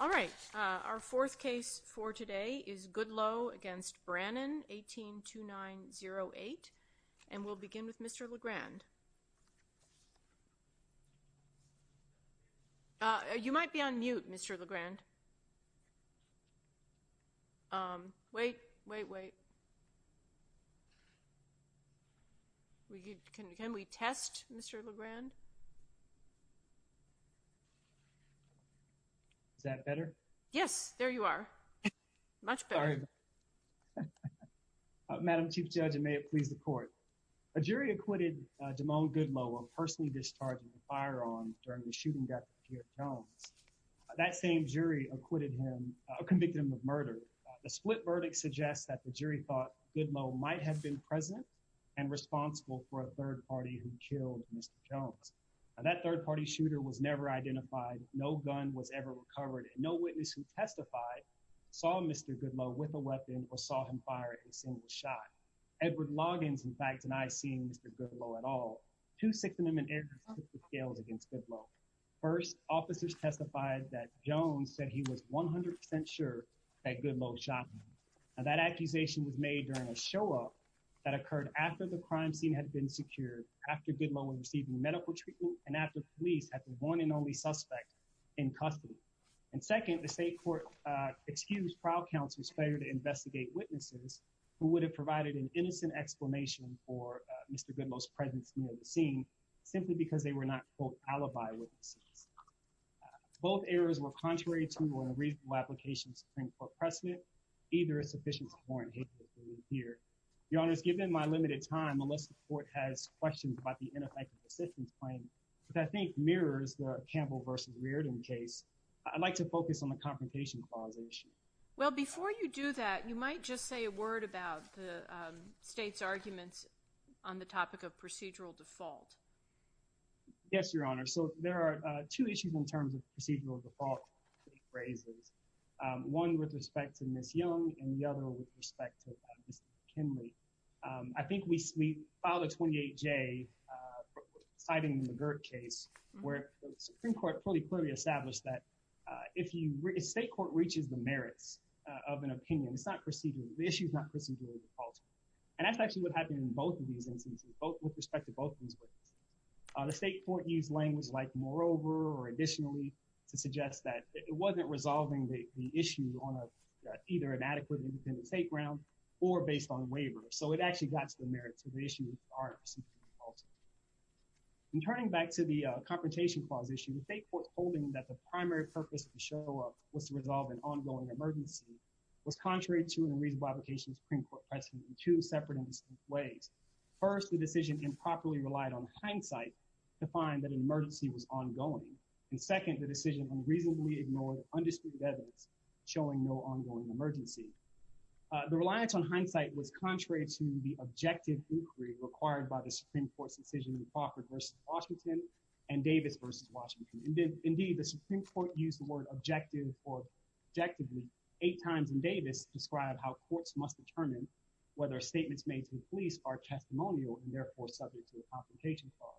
All right, our fourth case for today is Goodloe v. Brannon, 18-2908. And we'll begin with Mr. LeGrand. You might be on mute, Mr. LeGrand. Wait, wait, wait. Can we test Mr. LeGrand? Is that better? Yes, there you are. Much better. Madam Chief Judge, and may it please the court. A jury acquitted Jamone Goodloe of personally discharging a firearm during the shooting of Pierre Jones. That same jury acquitted him, convicted him of murder. The split verdict suggests that the jury thought Goodloe might have been present and responsible for a third party who killed Mr. Jones. Now, that third party shooter was never identified. No gun was ever recovered. And no witness who testified saw Mr. Goodloe with a weapon or saw him fire a single shot. Edward Loggins, in fact, denied seeing Mr. Goodloe at all. Two six-minute errors took the scales against Goodloe. First, officers testified that Jones said he was 100% sure that Goodloe shot him. Now, that accusation was made during a show-off that occurred after the crime scene had been secured, after Goodloe was receiving medical treatment, and after police had the one and only suspect in custody. And second, the state court excused trial counsel's failure to investigate witnesses who would have provided an innocent explanation for Mr. Goodloe's presence near the scene, simply because they were not, quote, alibi witnesses. Both errors were contrary to and reasonable applications to Supreme Court precedent. Either is sufficient to warrant hatred here. Your Honor, given my limited time, unless the court has questions about the ineffective assistance claim, which I think mirrors the Campbell v. Reardon case, I'd like to focus on the Confrontation Clause issue. Well, before you do that, you might just say a word about the state's arguments on the topic of procedural default. Yes, Your Honor. So there are two issues in terms of procedural default, state raises, one with respect to Ms. Young and the other with respect to Mr. McKinley. I think we filed a 28-J, citing the McGirt case, where the Supreme Court pretty clearly established that if state court reaches the merits of an opinion, it's not procedural. The issue is not procedural default. And that's actually what happened in both of these instances, with respect to both of these witnesses. The state court used language like moreover or additionally to suggest that it wasn't resolving the issue on either an adequate independent state ground or based on a waiver. So it actually got to the merits of the issue. In turning back to the Confrontation Clause issue, the state court's holding that the primary purpose of the show-off was to resolve an ongoing emergency was contrary to and reasonable application of Supreme Court precedent in two separate and distinct ways. First, the decision improperly relied on hindsight to find that an emergency was ongoing. And second, the decision unreasonably ignored undisputed evidence showing no ongoing emergency. The reliance on hindsight was contrary to the objective inquiry required by the Supreme Court's decision in Crawford v. Washington and Davis v. Washington. Indeed, the Supreme Court used the word objective or objectively eight times in Davis to describe how courts must determine whether statements made to the police are testimonial and therefore subject to a Confrontation Clause.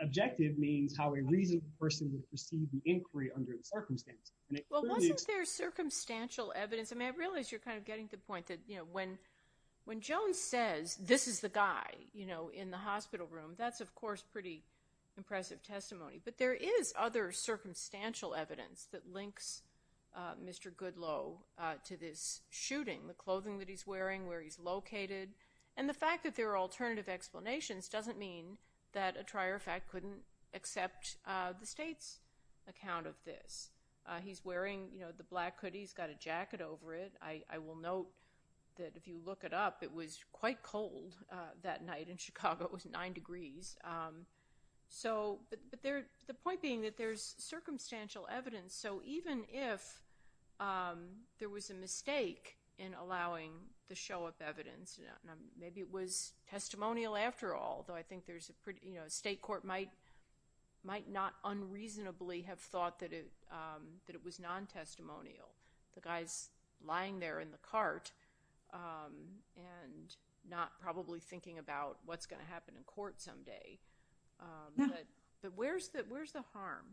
Objective means how a reasonable person would perceive the inquiry under the circumstance. Well, wasn't there circumstantial evidence? I mean, I realize you're kind of getting to the point that, you know, when Jones says, this is the guy, you know, in the hospital room, that's, of course, pretty impressive testimony. But there is other circumstantial evidence that links Mr. Goodloe to this shooting, the clothing that he's wearing, where he's located. And the fact that there are alternative explanations doesn't mean that a trier of fact couldn't accept the state's account of this. He's wearing, you know, the black hoodie. He's got a jacket over it. I will note that if you look it up, it was quite cold that night in Chicago. It was 9 degrees. But the point being that there's circumstantial evidence. So even if there was a mistake in allowing the show of evidence, maybe it was testimonial after all, though I think there's a pretty, you know, state court might not unreasonably have thought that it was non-testimonial. The guy's lying there in the cart and not probably thinking about what's going to happen in court someday. But where's the harm?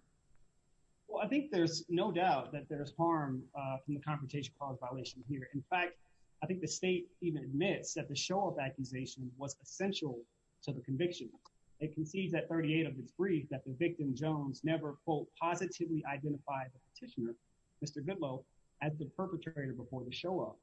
Well, I think there's no doubt that there's harm from the Confrontation Clause violation here. In fact, I think the state even admits that the show-off accusation was essential to the conviction. It concedes at 38 of its brief that the victim, Jones, never, quote, positively identified the petitioner, Mr. Goodloe, as the perpetrator before the show-off.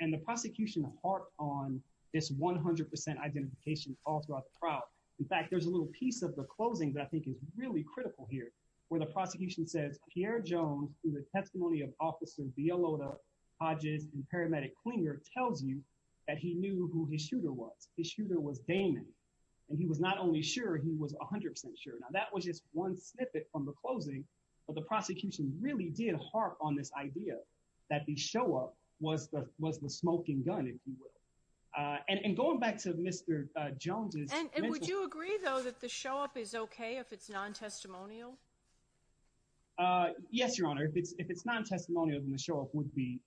And the prosecution harped on this 100 percent identification all throughout the trial. In fact, there's a little piece of the closing that I think is really critical here, where the prosecution says, Pierre Jones, through the testimony of Officer Villalota, Hodges, and Paramedic Klinger, tells you that he knew who his shooter was. His shooter was Damon. And he was not only sure, he was 100 percent sure. Now, that was just one snippet from the closing, but the prosecution really did harp on this idea that the show-off was the smoking gun, if you will. And going back to Mr. Jones's— And would you agree, though, that the show-off is okay if it's non-testimonial? Yes, Your Honor. If it's non-testimonial, then the show-off wouldn't be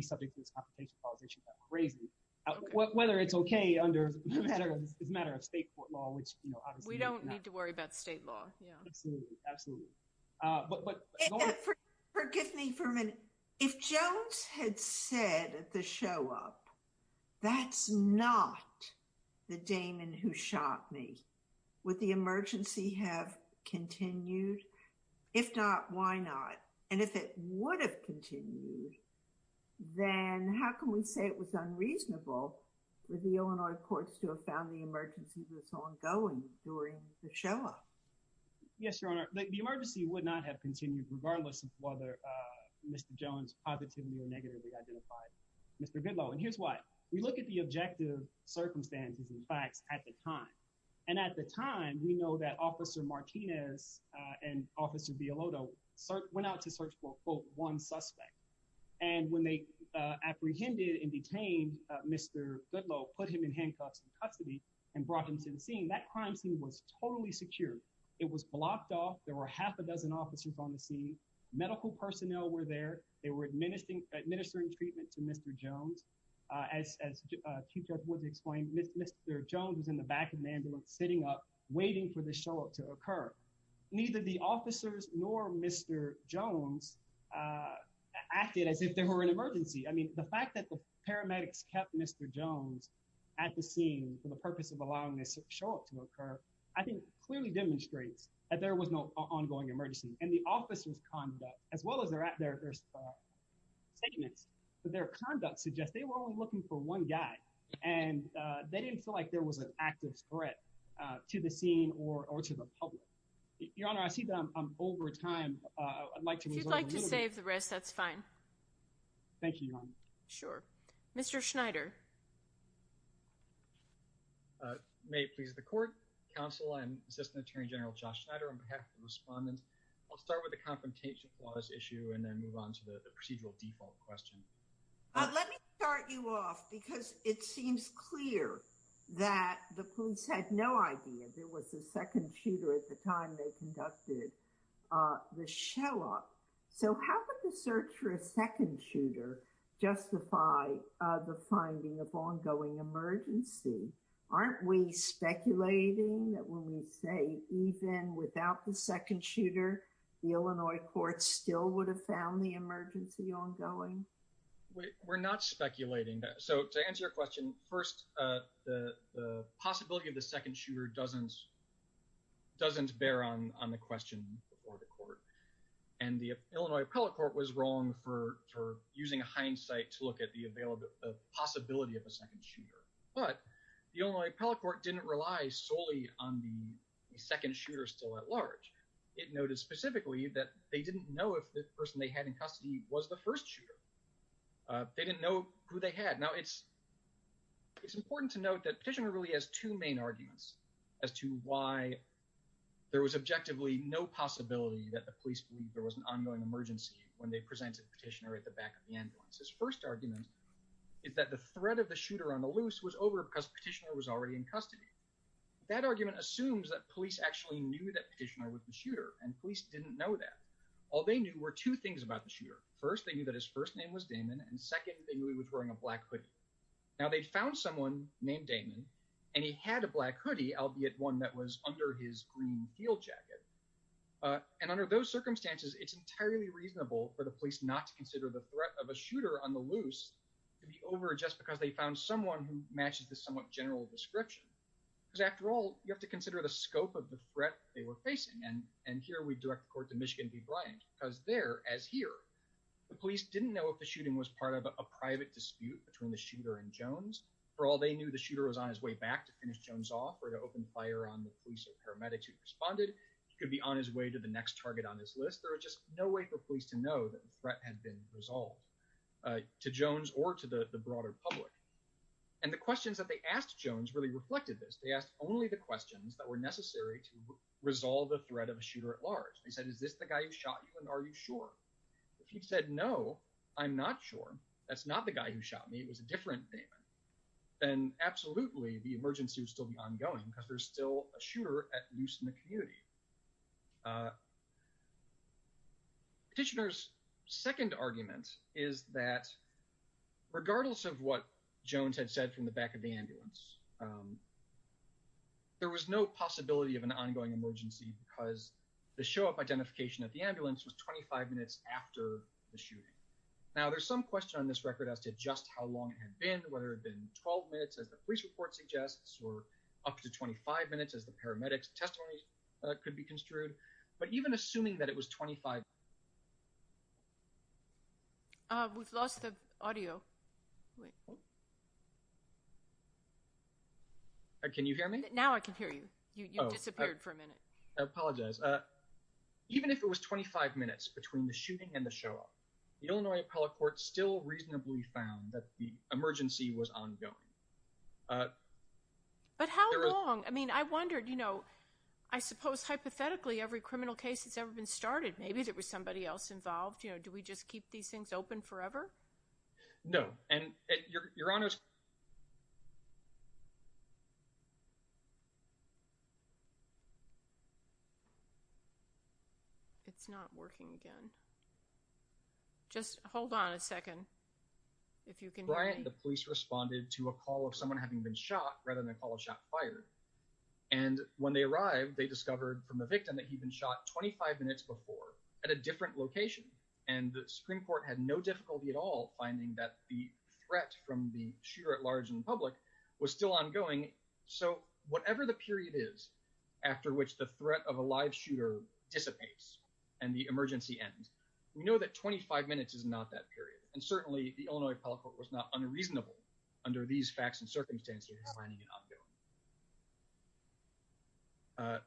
subject to this Confrontation Clause issue. That would be crazy. Whether it's okay under—it's a matter of state court law, which obviously— We don't need to worry about state law. Absolutely. Forgive me for a minute. If Jones had said at the show-off, that's not the Damon who shot me, would the emergency have continued? If not, why not? And if it would have continued, then how can we say it was unreasonable for the Illinois courts to have found the emergency was ongoing during the show-off? Yes, Your Honor. The emergency would not have continued regardless of whether Mr. Jones positively or negatively identified Mr. Goodloe. And here's why. We look at the objective circumstances and facts at the time. And at the time, we know that Officer Martinez and Officer Villalobo went out to search for, quote, one suspect. And when they apprehended and detained Mr. Goodloe, put him in handcuffs in custody, and brought him to the scene, that crime scene was totally secure. It was blocked off. There were half a dozen officers on the scene. Medical personnel were there. They were administering treatment to Mr. Jones. As Chief Judge Woods explained, Mr. Jones was in the back of the ambulance sitting up waiting for the show-off to occur. Neither the officers nor Mr. Jones acted as if there were an emergency. I mean, the fact that the paramedics kept Mr. Jones at the scene for the purpose of allowing this show-off to occur, I think clearly demonstrates that there was no ongoing emergency. And the officers' conduct, as well as their statements, their conduct suggests they were only looking for one guy. And they didn't feel like there was an active threat to the scene or to the public. Your Honor, I see that I'm over time. I'd like to move on. If you'd like to save the rest, that's fine. Thank you, Your Honor. Sure. Mr. Schneider. May it please the Court, Counsel, and Assistant Attorney General Josh Schneider, on behalf of the respondents. I'll start with the confrontation clause issue and then move on to the procedural default question. Let me start you off because it seems clear that the police had no idea there was a second shooter at the time they conducted the show-off. So how could the search for a second shooter justify the finding of ongoing emergency? Aren't we speculating that when we say even without the second shooter, the Illinois court still would have found the emergency ongoing? We're not speculating. So to answer your question, first, the possibility of the second shooter doesn't bear on the question before the court. And the Illinois appellate court was wrong for using hindsight to look at the possibility of a second shooter. But the Illinois appellate court didn't rely solely on the second shooter still at large. It noted specifically that they didn't know if the person they had in custody was the first shooter. They didn't know who they had. Now, it's important to note that Petitioner really has two main arguments as to why there was objectively no possibility that the police believed there was an ongoing emergency when they presented Petitioner at the back of the ambulance. His first argument is that the threat of the shooter on the loose was over because Petitioner was already in custody. That argument assumes that police actually knew that Petitioner was the shooter, and police didn't know that. All they knew were two things about the shooter. First, they knew that his first name was Damon, and second, they knew he was wearing a black hoodie. Now, they found someone named Damon, and he had a black hoodie, albeit one that was under his green field jacket. And under those circumstances, it's entirely reasonable for the police not to consider the threat of a shooter on the loose to be over just because they found someone who matches the somewhat general description. Because after all, you have to consider the scope of the threat they were facing. And here we direct the court to Michigan v. Bryant because there, as here, the police didn't know if the shooting was part of a private dispute between the shooter and Jones. For all they knew, the shooter was on his way back to finish Jones off or to open fire on the police or paramedics who responded. He could be on his way to the next target on his list. There was just no way for police to know that the threat had been resolved to Jones or to the broader public. And the questions that they asked Jones really reflected this. They asked only the questions that were necessary to resolve the threat of a shooter at large. They said, is this the guy who shot you, and are you sure? If he said, no, I'm not sure. That's not the guy who shot me. It was a different Damon. Then absolutely, the emergency would still be ongoing because there's still a shooter at loose in the community. Petitioner's second argument is that regardless of what Jones had said from the back of the ambulance, there was no possibility of an ongoing emergency because the show-up identification at the ambulance was 25 minutes after the shooting. Now, there's some question on this record as to just how long it had been, whether it had been 12 minutes as the police report suggests or up to 25 minutes as the paramedics' testimony could be construed. But even assuming that it was 25 minutes. We've lost the audio. Can you hear me? Now I can hear you. You disappeared for a minute. I apologize. Even if it was 25 minutes between the shooting and the show-up, the Illinois appellate court still reasonably found that the emergency was ongoing. But how long? I mean, I wondered, you know, I suppose hypothetically every criminal case that's ever been started, maybe there was somebody else involved. You know, do we just keep these things open forever? No. And your Honor's. It's not working again. Just hold on a second. Brian, the police responded to a call of someone having been shot rather than a call of shot and fired. And when they arrived, they discovered from the victim that he'd been shot 25 minutes before at a different location. And the Supreme Court had no difficulty at all finding that the threat from the shooter at large in public was still ongoing. So whatever the period is after which the threat of a live shooter dissipates and the emergency ends, we know that 25 minutes is not that period. And certainly the Illinois appellate court was not unreasonable under these facts and circumstances finding it ongoing.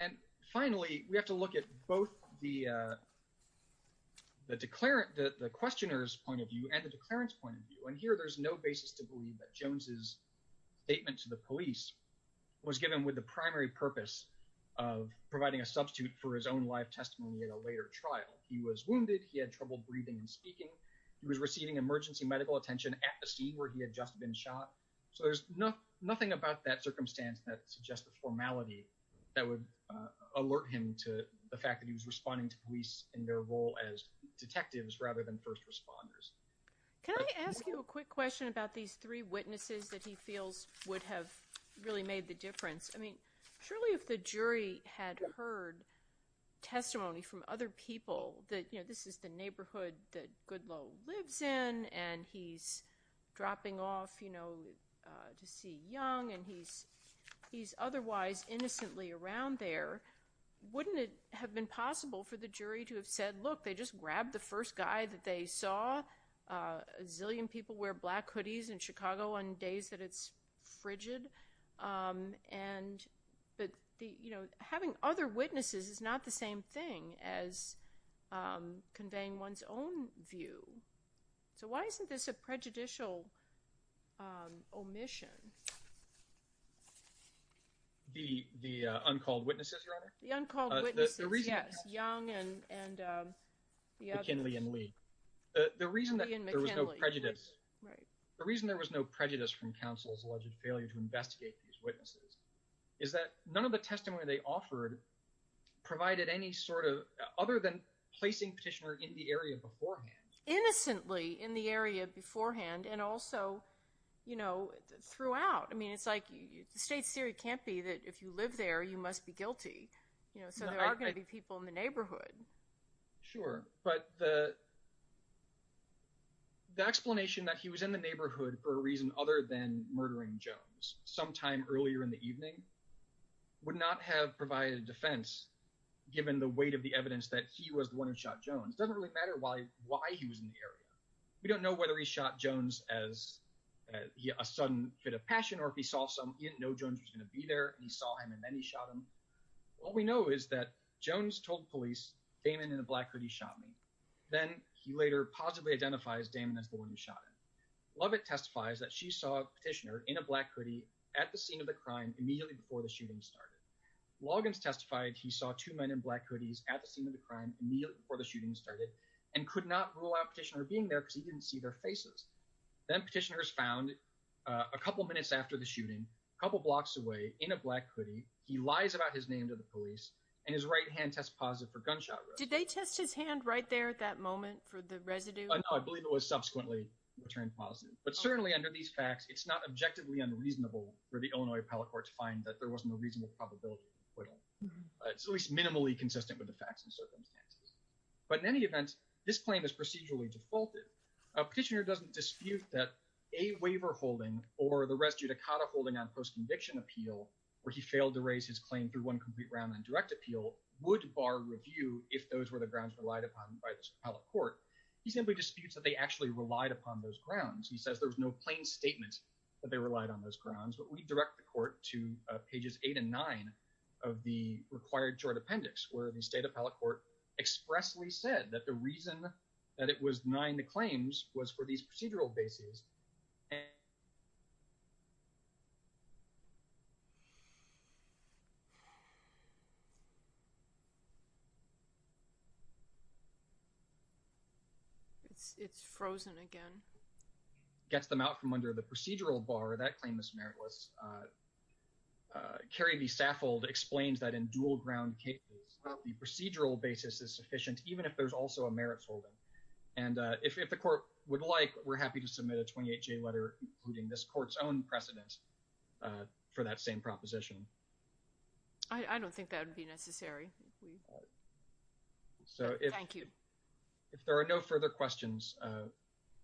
And finally, we have to look at both the questioner's point of view and the declarant's point of view. And here there's no basis to believe that Jones' statement to the police was given with the primary purpose of providing a substitute for his own life testimony at a later trial. He was wounded. He had trouble breathing and speaking. He was receiving emergency medical attention at the scene where he had just been shot. So there's nothing about that circumstance that suggests the formality that would alert him to the fact that he was responding to police in their role as detectives rather than first responders. Can I ask you a quick question about these three witnesses that he feels would have really made the difference? I mean, surely if the jury had heard testimony from other people that, you know, this is the neighborhood that Goodloe lives in and he's dropping off, you know, to see Young, and he's otherwise innocently around there, wouldn't it have been possible for the jury to have said, look, they just grabbed the first guy that they saw? A zillion people wear black hoodies in Chicago on days that it's frigid. But, you know, having other witnesses is not the same thing as conveying one's own view. So why isn't this a prejudicial omission? The uncalled witnesses, Your Honor? The uncalled witnesses, yes, Young and the others. McKinley and Lee. Lee and McKinley. Prejudice. Right. The reason there was no prejudice from counsel's alleged failure to investigate these witnesses is that none of the testimony they offered provided any sort of, other than placing Petitioner in the area beforehand. Innocently in the area beforehand and also, you know, throughout. I mean, it's like the state's theory can't be that if you live there, you must be guilty. You know, so there are going to be people in the neighborhood. Sure. But the explanation that he was in the neighborhood for a reason other than murdering Jones sometime earlier in the evening would not have provided a defense given the weight of the evidence that he was the one who shot Jones. It doesn't really matter why he was in the area. We don't know whether he shot Jones as a sudden fit of passion or if he saw something. He didn't know Jones was going to be there, and he saw him, and then he shot him. What we know is that Jones told police, Damon in a black hoodie shot me. Then he later positively identifies Damon as the one who shot him. Lovett testifies that she saw Petitioner in a black hoodie at the scene of the crime immediately before the shooting started. Loggins testified he saw two men in black hoodies at the scene of the crime immediately before the shooting started and could not rule out Petitioner being there because he didn't see their faces. Then Petitioner is found a couple of minutes after the shooting, a couple blocks away in a black hoodie. He lies about his name to the police, and his right hand tests positive for gunshot wounds. Did they test his hand right there at that moment for the residue? No, I believe it was subsequently returned positive. But certainly under these facts, it's not objectively unreasonable for the Illinois Appellate Court to find that there was no reasonable probability of acquittal. It's at least minimally consistent with the facts and circumstances. But in any event, this claim is procedurally defaulted. Petitioner doesn't dispute that a waiver holding or the res judicata holding on post-conviction appeal where he failed to raise his claim through one complete round on direct appeal would bar review if those were the grounds relied upon by this appellate court. He simply disputes that they actually relied upon those grounds. He says there was no plain statement that they relied on those grounds. But we direct the court to pages 8 and 9 of the required short appendix where the state appellate court expressly said that the reason that it was denying the claims was for these procedural bases. It's frozen again. Gets them out from under the procedural bar. That claim is meritless. Carrie B. Saffold explains that in dual ground cases, the procedural basis is sufficient even if there's also a merits holding. And if the court would like, we're happy to submit a 28-J letter including this court's own precedent for that same proposition. I don't think that would be necessary. Thank you. If there are no further questions,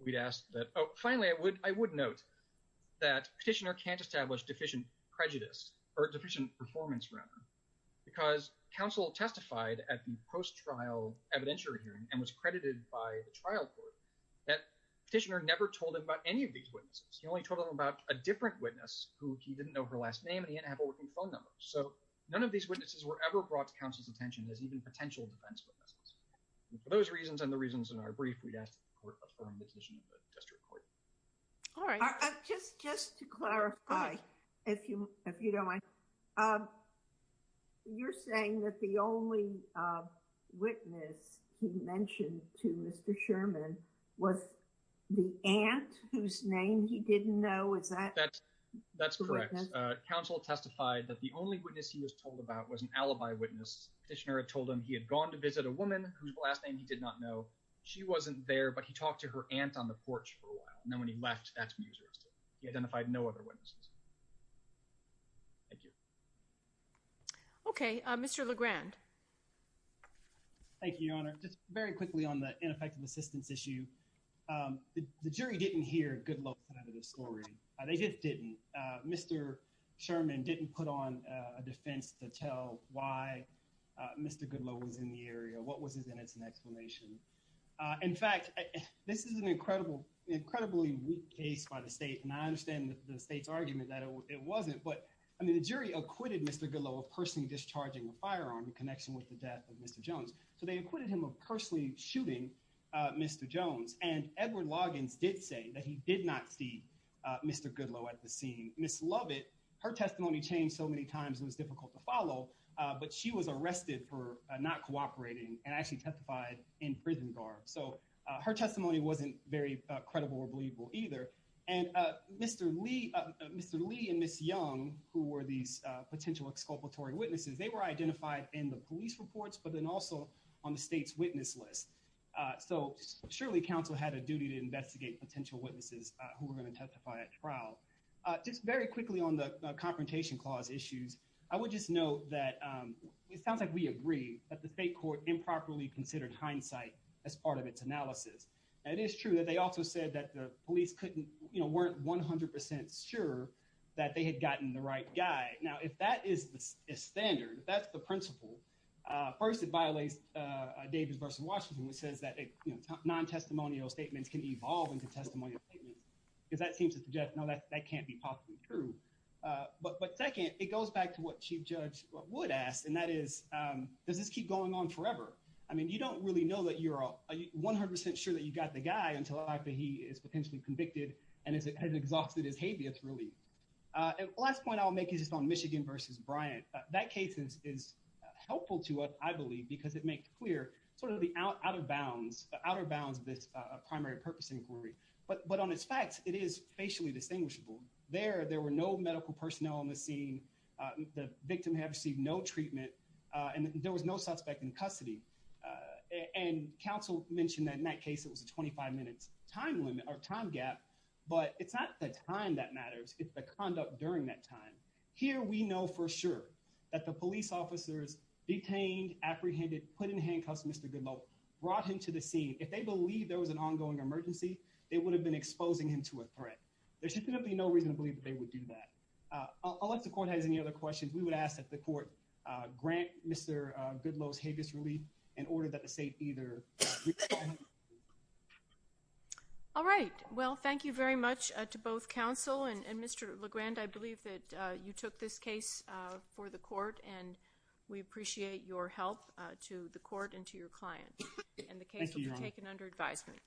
we'd ask that, oh, finally, I would note that petitioner can't establish deficient prejudice or deficient performance, remember, because counsel testified at the post-trial evidentiary hearing and was credited by the trial court that petitioner never told him about any of these witnesses. He only told him about a different witness who he didn't know her last name and he didn't have a working phone number. So none of these witnesses were ever brought to counsel's attention as even potential defense witnesses. And for those reasons and the reasons in our brief, we'd ask that the court affirm the position of the district court. All right. Just to clarify, if you don't mind, you're saying that the only witness he mentioned to Mr. Sherman was the aunt whose name he didn't know. Is that correct? That's correct. Counsel testified that the only witness he was told about was an alibi witness. Petitioner had told him he had gone to visit a woman whose last name he did not know. She wasn't there, but he talked to her aunt on the porch for a while. And then when he left, that's when he was arrested. He identified no other witnesses. Thank you. Okay. Mr. LeGrand. Thank you, Your Honor. Just very quickly on the ineffective assistance issue. The jury didn't hear Goodloe's side of the story. They just didn't. Mr. Sherman didn't put on a defense to tell why Mr. Goodloe was in the area, what was his innocent explanation. In fact, this is an incredibly weak case by the state, and I understand the state's argument that it wasn't. But the jury acquitted Mr. Goodloe of personally discharging a firearm in connection with the death of Mr. Jones. So they acquitted him of personally shooting Mr. Jones. And Edward Loggins did say that he did not see Mr. Goodloe at the scene. Ms. Lovett, her testimony changed so many times it was difficult to follow, but she was arrested for not cooperating and actually testified in prison guard. So her testimony wasn't very credible or believable either. And Mr. Lee and Ms. Young, who were these potential exculpatory witnesses, they were identified in the police reports, but then also on the state's witness list. So surely counsel had a duty to investigate potential witnesses who were going to testify at trial. Just very quickly on the confrontation clause issues, I would just note that it sounds like we agree that the state court improperly considered hindsight as part of its analysis. And it is true that they also said that the police couldn't, you know, weren't 100% sure that they had gotten the right guy. Now, if that is the standard, if that's the principle, first it violates Davis v. Washington, which says that non-testimonial statements can evolve into testimonial statements because that seems to suggest, no, that can't be possibly true. But second, it goes back to what chief judge Wood asked. And that is, does this keep going on forever? I mean, you don't really know that you're 100% sure that you've got the guy until he is potentially convicted and has exhausted his habeas relief. Last point I'll make is just on Michigan v. Bryant. That case is helpful to us, I believe, because it makes clear sort of the out of bounds, the outer bounds of this primary purpose inquiry. But on its facts, it is facially distinguishable. There, there were no medical personnel on the scene. The victim had received no treatment, and there was no suspect in custody. And counsel mentioned that in that case, it was a 25 minutes time limit or time gap, but it's not the time that matters. It's the conduct during that time. Here we know for sure that the police officers detained, apprehended, put in handcuffs, Mr. Goodlow brought him to the scene. If they believe there was an ongoing emergency, they would have been exposing him to a threat. There should be no reason to believe that they would do that. Unless the court has any other questions, we would ask that the court grant Mr. Goodlow's habeas relief in order that the state either respond. All right. Well, thank you very much to both counsel and Mr. LeGrand. I believe that you took this case for the court, and we appreciate your help to the court and to your client. And the case will be taken under advisement.